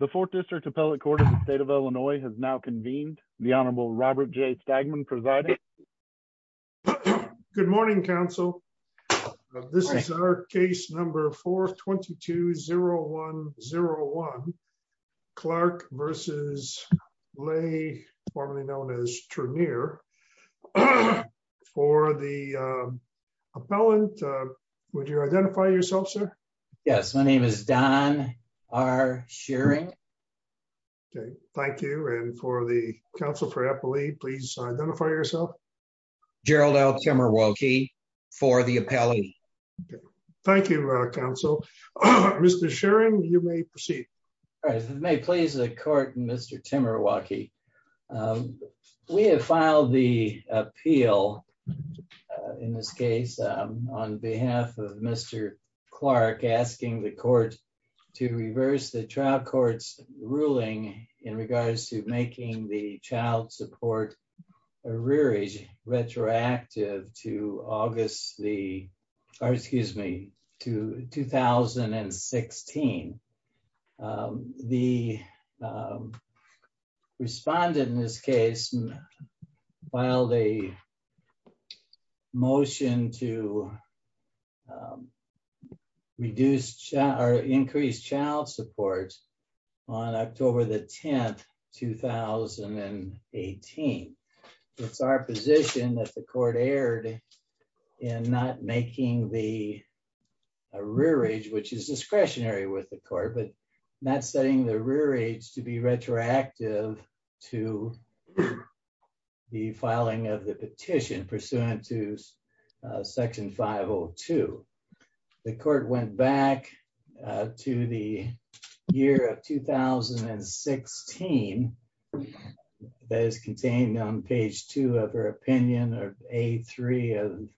The fourth district appellate court in the state of Illinois has now convened. The honorable Robert J. Stagman presiding. Good morning, counsel. This is our case number 422-0101, Clark v. Lay, formerly known as Trenere. For the appellant, would you identify yourself, sir? Yes, my name is Don R. Shearing. Okay, thank you. And for the counsel for appellee, please identify yourself. Gerald L. Timerwalkie for the appellee. Thank you, counsel. Mr. Shearing, you may proceed. All right, if it may please the court, Mr. Timerwalkie. We have filed the appeal in this case on behalf of Mr. Clark, asking the court to reverse the trial court's ruling in regards to making the child support rearage retroactive to August the, or excuse me, to 2016. The respondent in this case filed a motion to increase child support on October the 10th, 2018. It's our position that the court erred in not making the rearage, which is discretionary with the court, but not setting the rearage to be retroactive to the filing of the petition pursuant to Section 502. The court went back to the year of 2016 that is contained on page two of her opinion or A3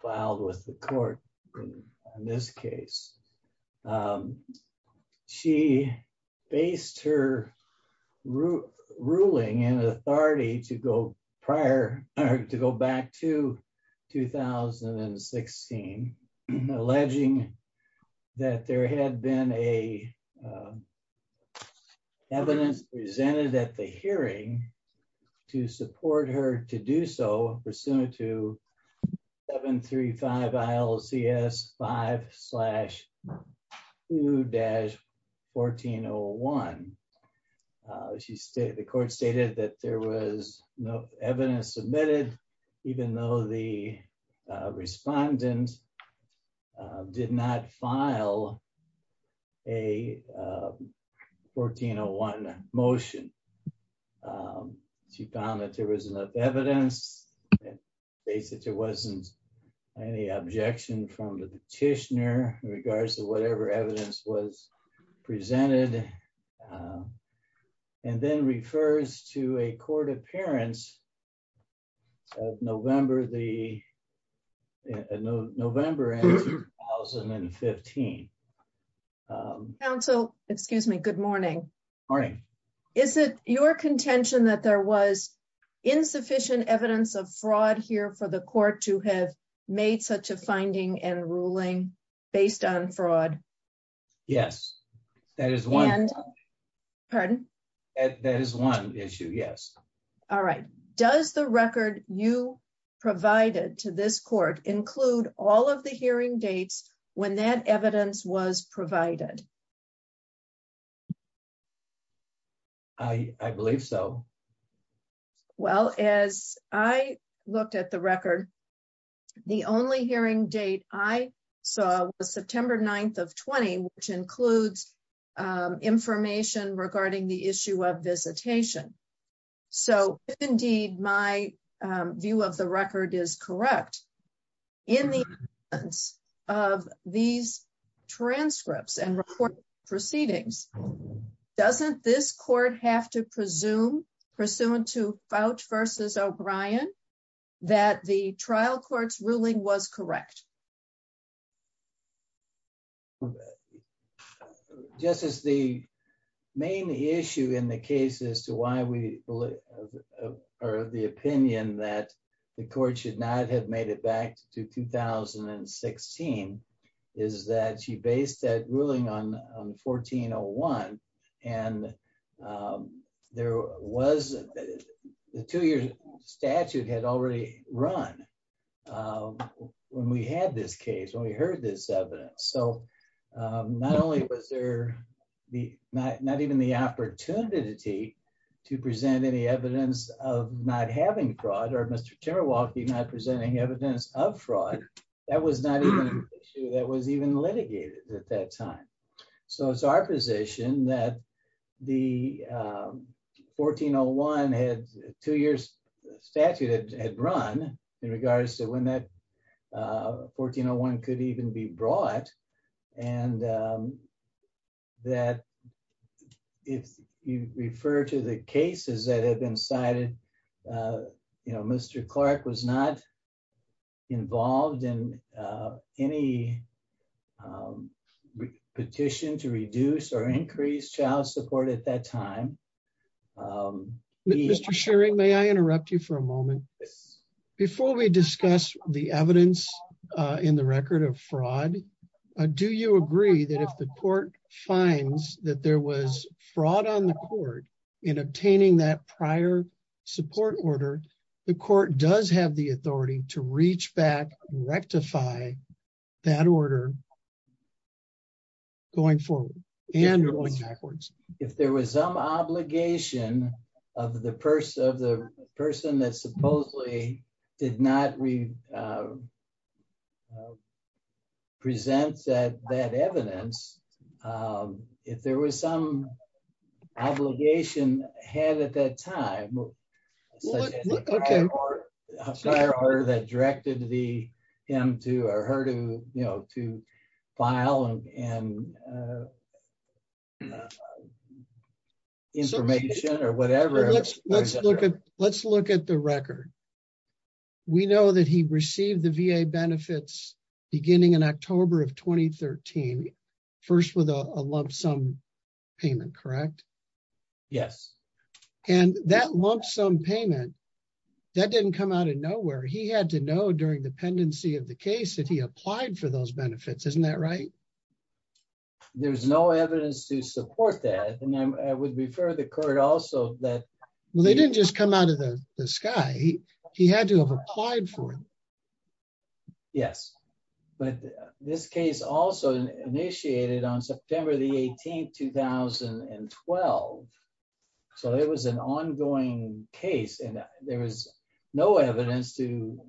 filed with the court in this case. She based her ruling and authority to go prior or to go back to 2016, alleging that there had been a evidence presented at the hearing to support her to do so pursuant to 735 ILCS 5 slash 2-1401. The court stated that there was no evidence submitted, even though the respondent did not file a 1401 motion. She found that there was enough evidence and stated there wasn't any objection from the petitioner in regards to whatever evidence was presented in the case. The court referred to a court appearance in November 2015. Good morning. Is it your contention that there was insufficient evidence of fraud here for the pardon? That is one issue. Yes. All right. Does the record you provided to this court include all of the hearing dates when that evidence was provided? I believe so. Well, as I looked at the record, the only hearing date I saw was September 9th which includes information regarding the issue of visitation. If, indeed, my view of the record is correct, in the absence of these transcripts and report proceedings, doesn't this court have to presume pursuant to Fouch v. O'Brien that the trial court's ruling was correct? Yes. The main issue in the case as to why we believe or the opinion that the court should not have made it back to 2016 is that she based that ruling on 1401. The two-year statute had run when we had this case, when we heard this evidence. Not only was there not even the opportunity to present any evidence of not having fraud or not presenting evidence of fraud, that was not even an issue that was even litigated at that time. It is our position that the 1401 had two years statute had run in regards to when that 1401 could even be brought and that if you refer to the cases that have been cited, Mr. Clark was not involved in any petition to reduce or increase child support at that time. Mr. Shearing, may I interrupt you for a moment? Before we discuss the evidence in the record of fraud, do you agree that if the court finds that there was fraud on the court in obtaining that prior support order, the court does have the authority to reach back and rectify that order going forward and going backwards? If there was some obligation of the person that supposedly did not present that evidence, if there was some obligation had at that time, such as a prior order that directed him or her to file and information or whatever. Let's look at the record. We know that he received the VA benefits beginning in October of 2013, first with a lump sum payment, correct? Yes. And that lump sum payment, that didn't come out of nowhere. He had to know during the pendency of the case that he applied for those benefits, isn't that right? There's no evidence to support that. And I would refer the court also that- Well, they didn't just come out of the sky. He had to have applied for it. Yes. But this case also initiated on September the 18th, 2012. So it was an ongoing case and there was no evidence to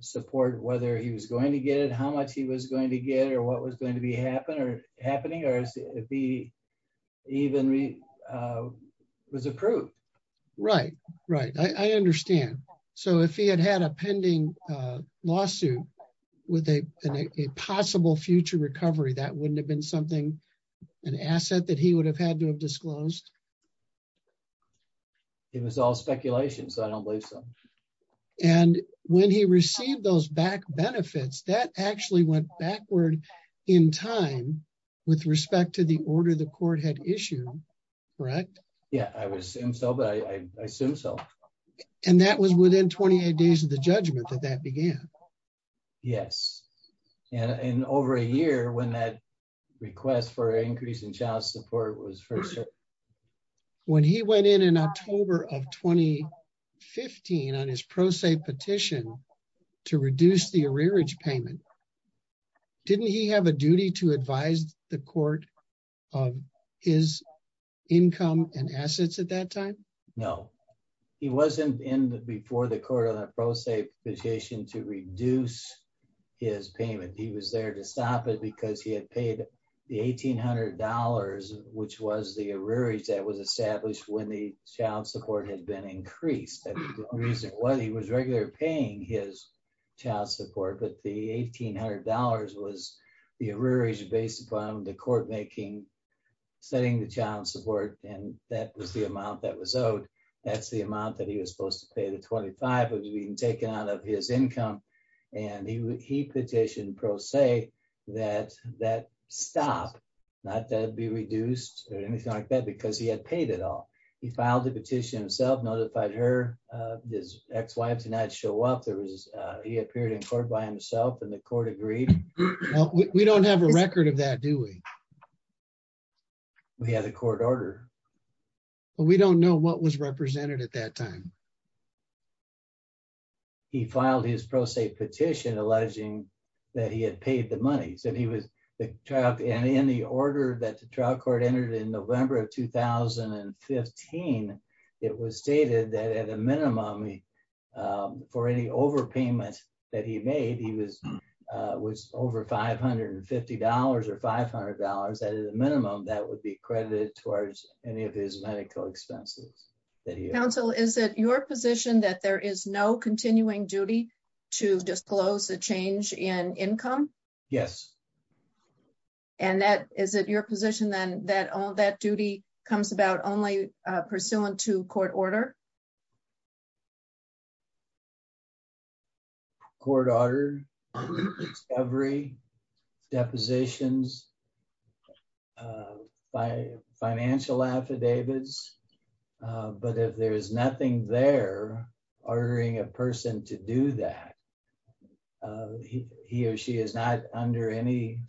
support whether he was going to get it, how much he was going to get it, or what was going to be happening or even was approved. Right. Right. I understand. So if he had had a pending lawsuit with a possible future recovery, that wouldn't have been something, an asset that he would have had to have disclosed? It was all speculation, so I don't believe so. And when he received those back benefits, that actually went backward in time with respect to order the court had issued, correct? Yeah, I would assume so, but I assume so. And that was within 28 days of the judgment that that began? Yes. And over a year when that request for an increase in child support was first heard. When he went in in October of 2015 on his pro se petition to reduce the arrearage payment, didn't he have a duty to advise the court of his income and assets at that time? No. He wasn't in before the court on a pro se petition to reduce his payment. He was there to stop it because he had paid the $1,800, which was the arrearage that was established when the child support had been increased. The reason why he was regularly paying his child support, but the $1,800 was the arrearage based upon the court making, setting the child support, and that was the amount that was owed. That's the amount that he was supposed to pay. The $25 was being taken out of his income, and he petitioned pro se that that stop, not to be reduced or anything like that because he had paid it all. He filed the petition himself, notified his ex-wife to not show up. He appeared in court by himself, and the court agreed. We don't have a record of that, do we? We have the court order. We don't know what was represented at that time. He filed his pro se petition alleging that he had paid the money. In the order that the trial entered in November of 2015, it was stated that at a minimum, for any overpayment that he made, he was over $550 or $500. At a minimum, that would be credited towards any of his medical expenses. Counsel, is it your position that there is no continuing duty to disclose the change in income? Yes. Is it your position then that all that duty comes about only pursuant to court order? Court order, discovery, depositions, financial affidavits. If there's nothing there ordering a person to do that, he or she is not under any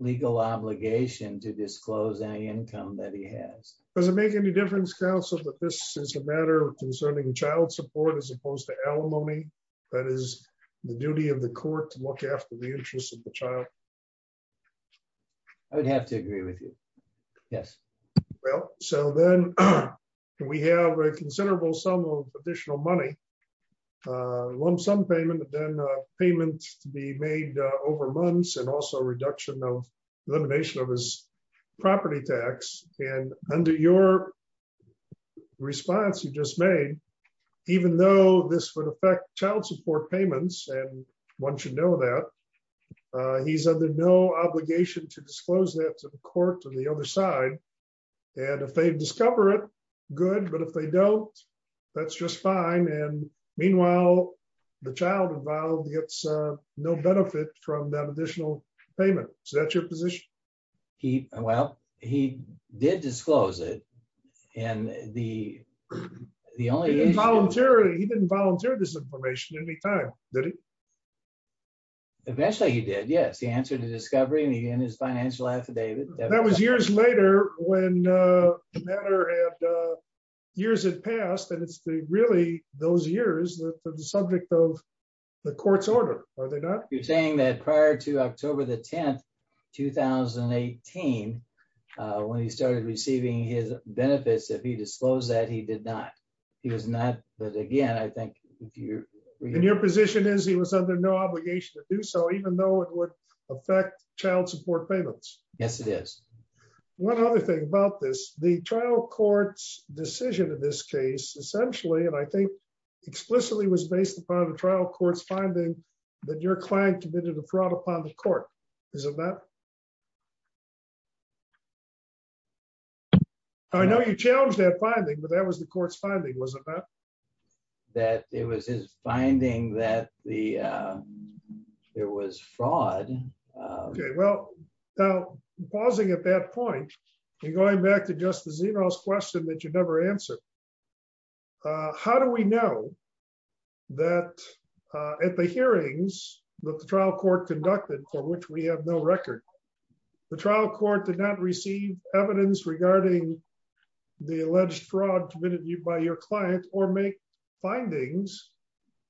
legal obligation to disclose any income that he has. Does it make any difference, Counsel, that this is a matter concerning child support as opposed to alimony? That is the duty of the court to look after the interests of the child? I would have to agree with you. Yes. Well, so then we have a considerable sum of additional money, lump sum payment, and then payments to be made over months and also reduction of elimination of his property tax. Under your response you just made, even though this would affect child support payments, and one should know that, he's under no obligation to disclose that to the court on the other side. And if they discover it, good. But if they don't, that's just fine. And meanwhile, the child involved gets no benefit from that additional payment. Is that your position? Well, he did disclose it. He didn't volunteer this information any time, did he? Eventually he did, yes. He answered the discovery and he had his financial affidavit. That was years later when the matter had, years had passed, and it's the, really, those years that are the subject of the court's order, are they not? You're saying that prior to October the 10th, 2018, when he started receiving his benefits, if he disclosed that, he did not. He was not, but again, I think if you're... Your position is he was under no obligation to do so, even though it would affect child support payments. Yes, it is. One other thing about this, the trial court's decision in this case, essentially, and I think explicitly was based upon the trial court's finding that your client committed a fraud upon the court, is it not? I know you challenged that finding, but that was the court's finding, was it not? That it was his finding that there was fraud. Okay, well, now, pausing at that point and going back to Justice Zeno's question that you never answered, how do we know that at the hearings that the trial court conducted, for which we have no record, the trial court did not receive evidence regarding the alleged fraud committed by your client or make findings,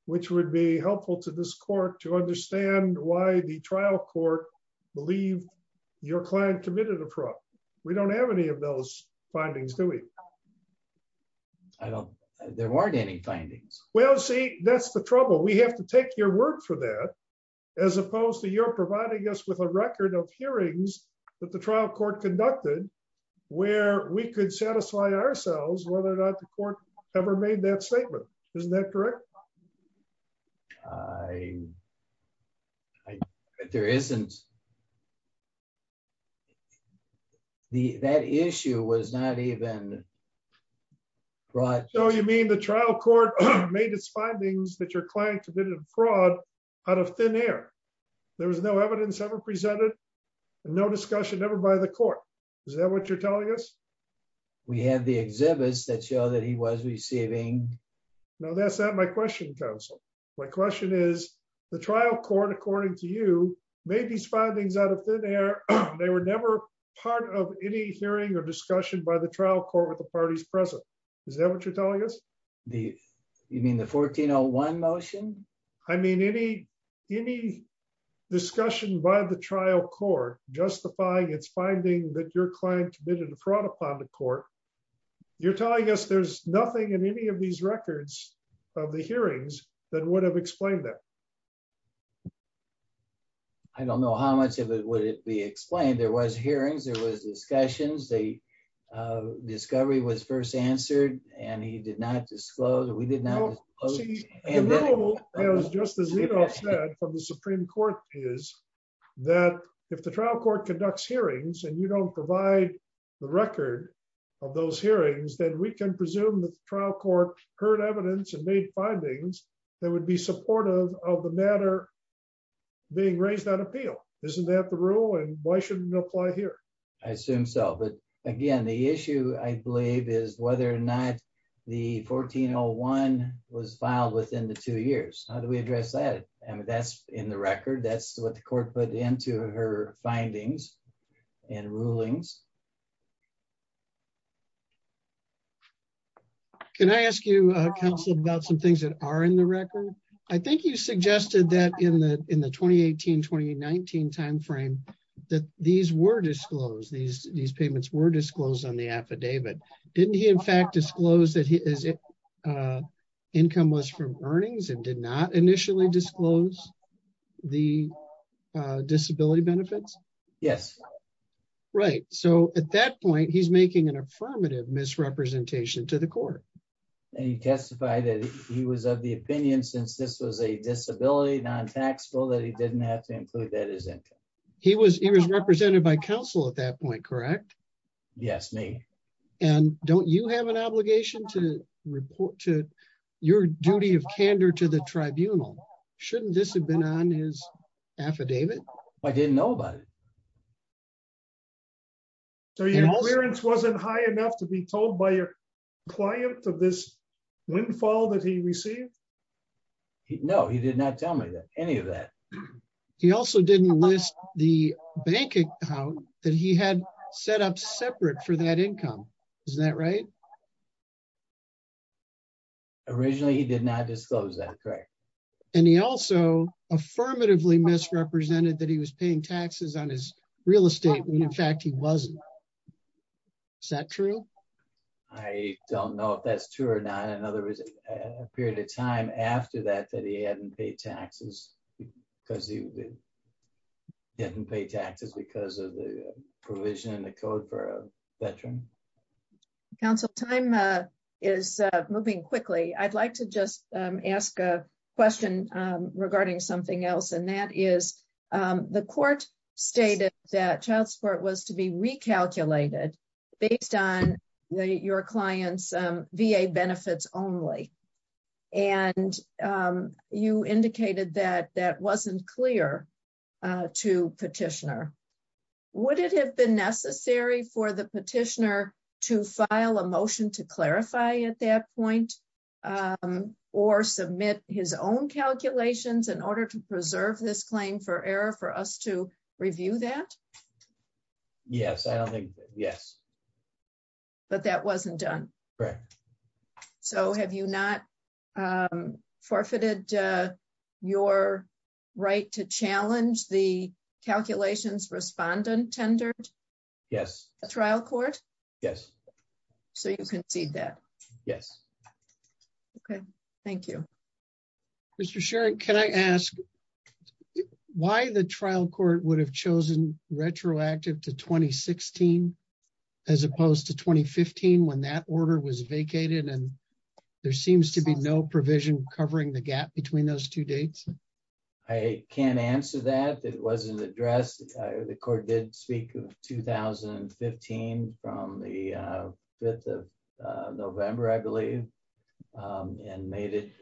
which would be helpful to this court to understand why the trial court believed your client committed a fraud? We don't have any of those findings, do we? I don't... There weren't any findings. Well, see, that's the trouble. We have to take your word for that, as opposed to you're providing us with a record of hearings that the trial court conducted, where we could satisfy ourselves whether or not the court ever made that statement. Isn't that correct? I... There isn't. That issue was not even brought... So you mean the trial court made its findings that your client committed fraud out of thin air. There was no evidence ever presented, no discussion ever by the court. Is that what you're telling us? We have the exhibits that show that he was receiving... No, that's not my question, counsel. My question is, the trial court, according to you, made these findings out of thin air. They were never part of any hearing or discussion by the trial court with the parties present. Is that what you're telling us? You mean the 1401 motion? I mean, any discussion by the trial court justifying its finding that your client committed fraud upon the court. You're telling us there's nothing in any of these records of the hearings that would have explained that? I don't know how much of it would it be explained. There was hearings, there was discussions, the discovery was first answered, and he did not disclose, we did not... Well, see, the rule, as Justice Zito said, from the Supreme Court is that if the trial court conducts hearings and you don't provide the record of those hearings, then we can presume that the trial court heard evidence and made findings that would be supportive of the matter being raised on appeal. Isn't that the rule? And why shouldn't it apply here? I assume so. But again, the issue, I believe, is whether or not the 1401 was filed within the two years. How do we address that? I mean, that's in the record, that's what the court put into her findings and rulings. Can I ask you, counsel, about some things that are in the record? I think you suggested that in the 2018-2019 timeframe, that these were disclosed, these payments were disclosed on the affidavit. Didn't he, in fact, disclose that his income was from earnings and did not initially disclose the disability benefits? Yes. Right. So at that point, he's making an affirmative misrepresentation to the court. And he testified that he was of the opinion, since this was a disability non-tax bill, that he didn't have to include that as income. He was represented by counsel at that point, correct? Yes, me. And don't you have an obligation to report to your duty of candor to the tribunal? Shouldn't this have been on his affidavit? I didn't know about it. So your clearance wasn't high enough to be told by your client of this windfall that he received? No, he did not tell me any of that. He also didn't list the bank account that he had set up separate for that income. Is that right? Originally, he did not disclose that, correct? And he also affirmatively misrepresented that he was paying taxes on his real estate when, in fact, he wasn't. Is that true? I don't know if that's true or not. In other words, a period of time after that, that he hadn't paid taxes because he didn't pay taxes because of the provision in the code for a veteran. Counsel, I'm not sure if that's true. It's moving quickly. I'd like to just ask a question regarding something else, and that is the court stated that child support was to be recalculated based on your client's VA benefits only. And you indicated that that wasn't clear to petitioner. Would it have been necessary for petitioner to file a motion to clarify at that point or submit his own calculations in order to preserve this claim for error for us to review that? Yes, I don't think. Yes. But that wasn't done. Correct. So have you not forfeited your right to challenge the calculations respondent Yes. A trial court. Yes. So you can see that. Yes. Okay. Thank you. Mr. Sharon, can I ask why the trial court would have chosen retroactive to 2016 as opposed to 2015 when that order was vacated? And there seems to be no provision covering the gap between those two dates. I can't answer that. It wasn't addressed. The court did speak of 2015 from the 5th of November, I believe, and made it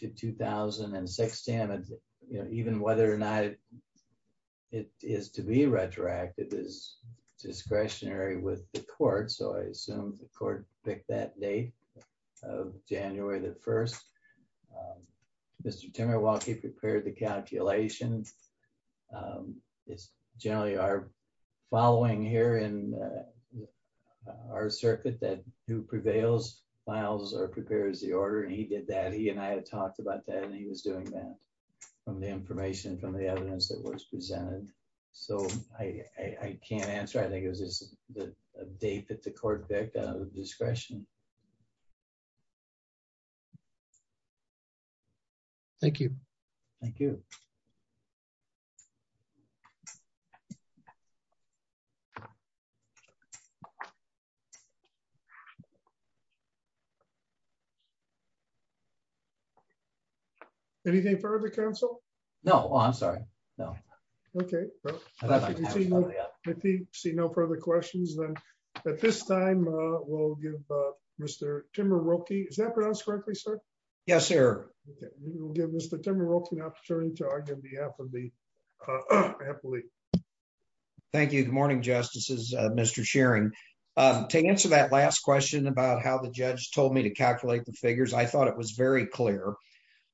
to 2016. Even whether or not it is to be retroactive is discretionary with the court. So I assume the court picked that date of January the 1st. Mr. Timmerwalke prepared the calculation. It's generally our following here in our circuit that who prevails files or prepares the order and he did that. He and I had talked about that and he was doing that from the information from the evidence that was presented. So I can't answer. I think it was just the date that the court picked out of discretion. Thank you. Thank you. Anything for the council? No, I'm sorry. No. Okay. If you see no further questions, then at this time, we'll give Mr. Timmerwalke. Is that okay? We'll give Mr. Timmerwalke an opportunity to argue on behalf of the athlete. Thank you. Good morning, Justices, Mr. Shearing. To answer that last question about how the judge told me to calculate the figures, I thought it was very clear.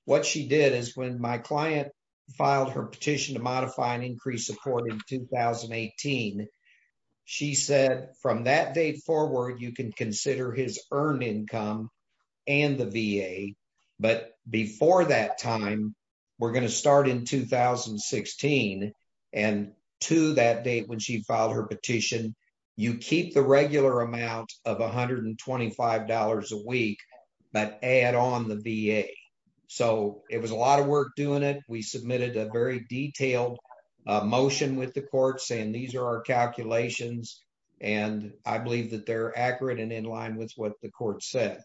What she did is when my client filed her petition to modify an increased support in 2018, she said from that date forward, you can consider his earned income and the VA. But before that time, we're going to start in 2016 and to that date when she filed her petition, you keep the regular amount of $125 a week, but add on the VA. So it was a lot of work doing it. We submitted a very detailed motion with the in line with what the court said.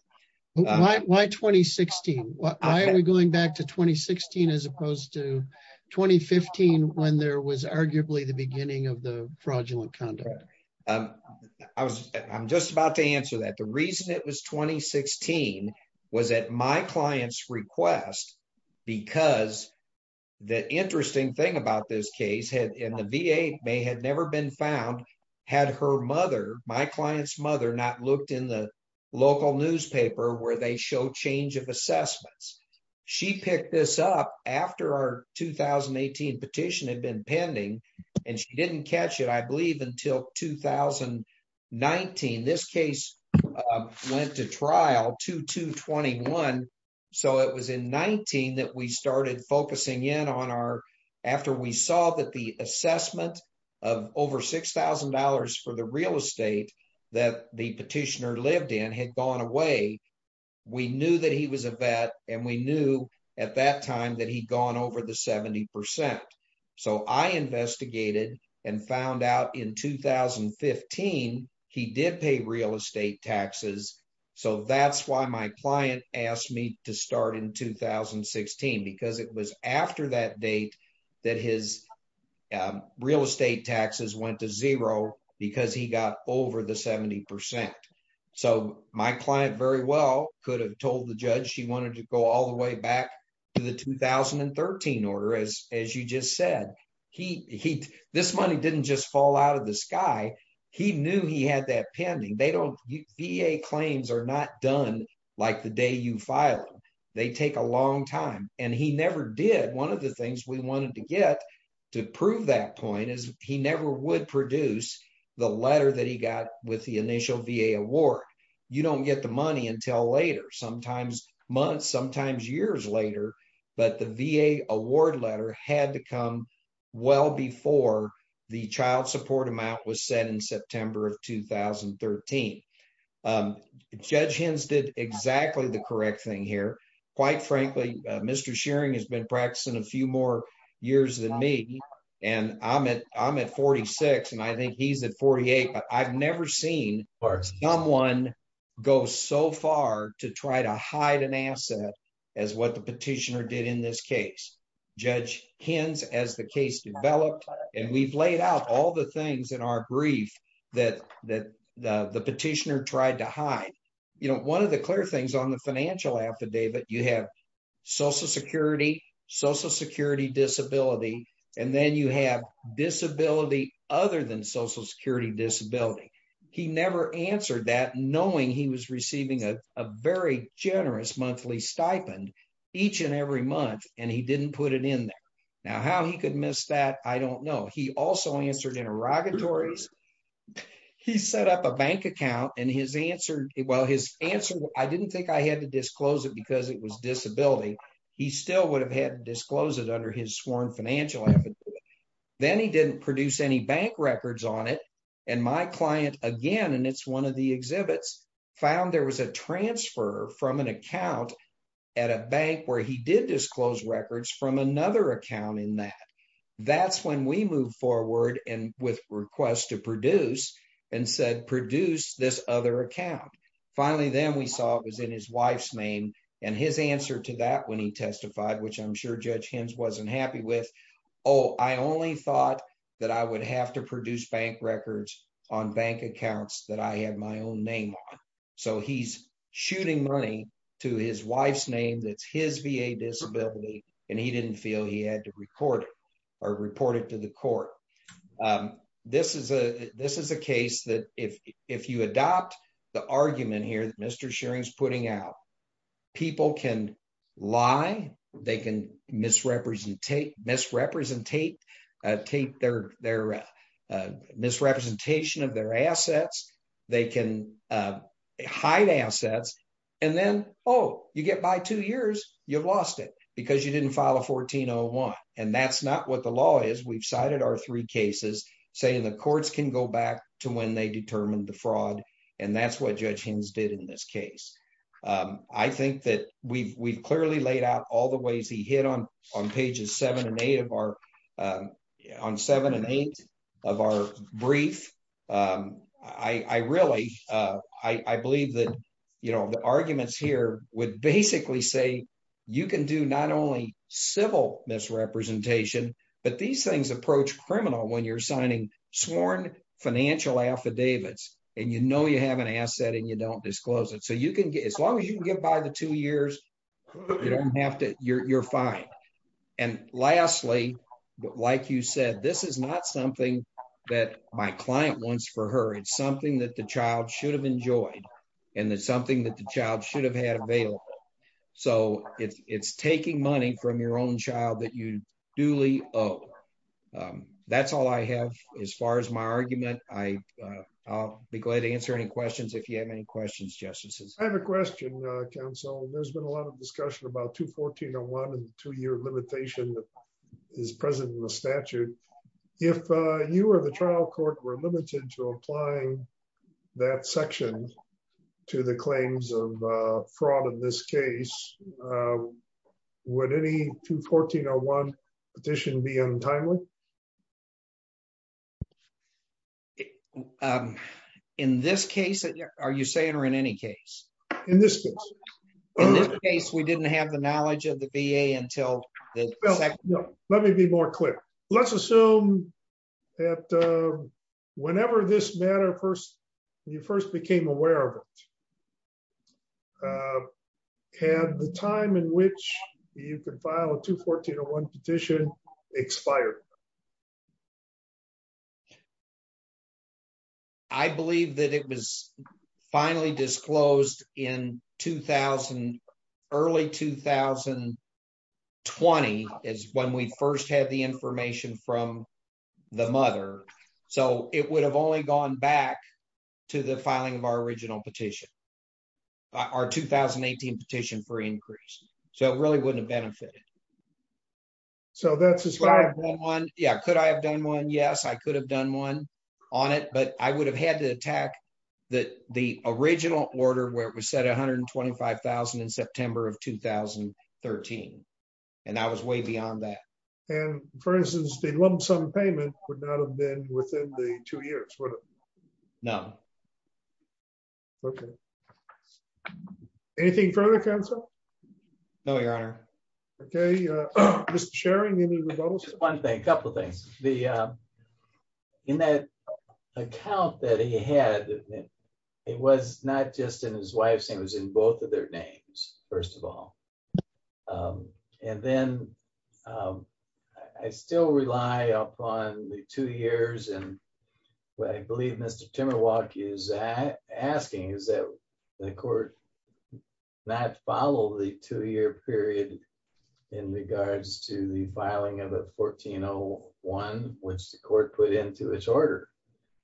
Why 2016? Why are we going back to 2016 as opposed to 2015 when there was arguably the beginning of the fraudulent conduct? I'm just about to answer that. The reason it was 2016 was at my client's request because the interesting thing about this looked in the local newspaper where they show change of assessments. She picked this up after our 2018 petition had been pending, and she didn't catch it, I believe, until 2019. This case went to trial 2221. So it was in 19 that we started focusing in on our after we saw that the assessment of over $6,000 for the real estate that the petitioner lived in had gone away. We knew that he was a vet, and we knew at that time that he'd gone over the 70%. So I investigated and found out in 2015, he did pay real estate taxes. So that's why my client asked me to start in 2016 because it was after that date that his real estate taxes went to zero because he got over the 70%. So my client very well could have told the judge she wanted to go all the way back to the 2013 order as you just said. This money didn't just fall out of the sky. He knew he had that pending. VA claims are not done like the day you file them. They take a long time, and he never did. One of the things we wanted to get to prove that point is he never would produce the letter that he got with the initial VA award. You don't get the money until later, sometimes months, sometimes years later, but the VA award letter had to come well before the child support amount was set in September of 2013. Judge Hens did exactly the correct thing here. Quite frankly, Mr. Shearing has been practicing a few more years than me, and I'm at 46, and I think he's at 48, but I've never seen someone go so far to try to hide an asset as what petitioner did in this case. Judge Hens, as the case developed, and we've laid out all the things in our brief that the petitioner tried to hide. One of the clear things on the financial affidavit, you have social security, social security disability, and then you have disability other than social security disability. He never answered that knowing he was receiving a very generous monthly stipend each and every month, and he didn't put it in there. Now, how he could miss that, I don't know. He also answered interrogatories. He set up a bank account, and his answer, well, his answer, I didn't think I had to disclose it because it was disability. He still would have had to disclose it under his sworn financial affidavit. Then he didn't produce any bank records on it, and my client, again, and it's one of the exhibits, found there was a transfer from an account at a bank where he did disclose records from another account in that. That's when we moved forward, and with requests to produce, and said produce this other account. Finally, then we saw it was in his wife's name, and his answer to that when he testified, which I'm sure Judge Hens wasn't happy with, oh, I only thought that I would have to so he's shooting money to his wife's name. That's his VA disability, and he didn't feel he had to report it to the court. This is a case that if you adopt the argument here that Mr. Shearing's putting out, people can lie. They can misrepresentate their misrepresentation of their assets. They can hide assets, and then, oh, you get by two years, you've lost it because you didn't file a 1401, and that's not what the law is. We've cited our three cases saying the courts can go back to when they determined the fraud, and that's what Judge Hens did in this case. I think that we've clearly laid out all the ways he hit on pages seven and eight of our brief. I believe that the arguments here would basically say you can do not only civil misrepresentation, but these things approach criminal when you're signing sworn financial affidavits, and you know you have an asset, and you don't disclose it. As long as you like you said, this is not something that my client wants for her. It's something that the child should have enjoyed, and it's something that the child should have had available, so it's taking money from your own child that you duly owe. That's all I have as far as my argument. I'll be glad to answer any questions if you have any questions, Justices. I have a question, Counsel. There's been a lot of discussion about 21401 and the two-year limitation that is present in the statute. If you or the trial court were limited to applying that section to the claims of fraud in this case, would any 21401 petition be untimely? In this case, are you saying or in any case? In this case. In this case, we didn't have the No, let me be more clear. Let's assume that whenever this matter first, you first became aware of it, had the time in which you could file a 21401 petition expired? I believe that it was finally disclosed in 2000. Early 2020 is when we first had the information from the mother, so it would have only gone back to the filing of our original petition. Our 2018 petition for increase, so it really wouldn't have benefited. So that's a slide one. Yeah, could I have done one? Yes, I could have done one on it, but I would have had to attack that the original order where it was set 125,000 in September of 2013. And that was way beyond that. And for instance, the lump sum payment would not have been within the two years, would it? No. Okay. Anything further, Counsel? No, Your Honor. Okay. Mr. Sherry? One thing, a couple of things. In that account that he had, it was not just in his wife's name, it was in both of their names, first of all. And then I still rely upon the two years and what I believe Mr. Timmerwock is asking is that the court not follow the two-year period in regards to the filing of a 1401, which the court put into its order.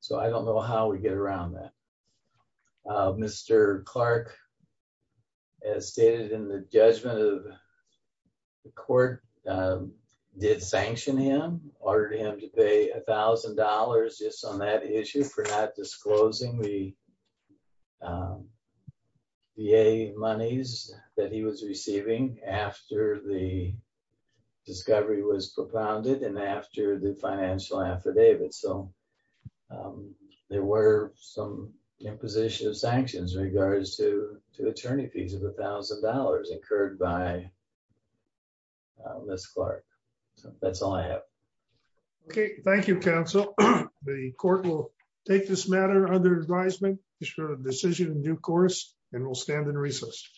So I don't know how we get around that. Mr. Clark, as stated in the judgment of the court, did sanction him, ordered him to pay $1,000 just on that issue for not disclosing the monies that he was receiving after the discovery was propounded and after the financial affidavit. So there were some imposition of sanctions in regards to attorney fees of $1,000 incurred by Ms. Clark. So that's all I have. Okay. Thank you, Counsel. The court will take this matter under advisement, issue a decision in due course, and will stand in recess.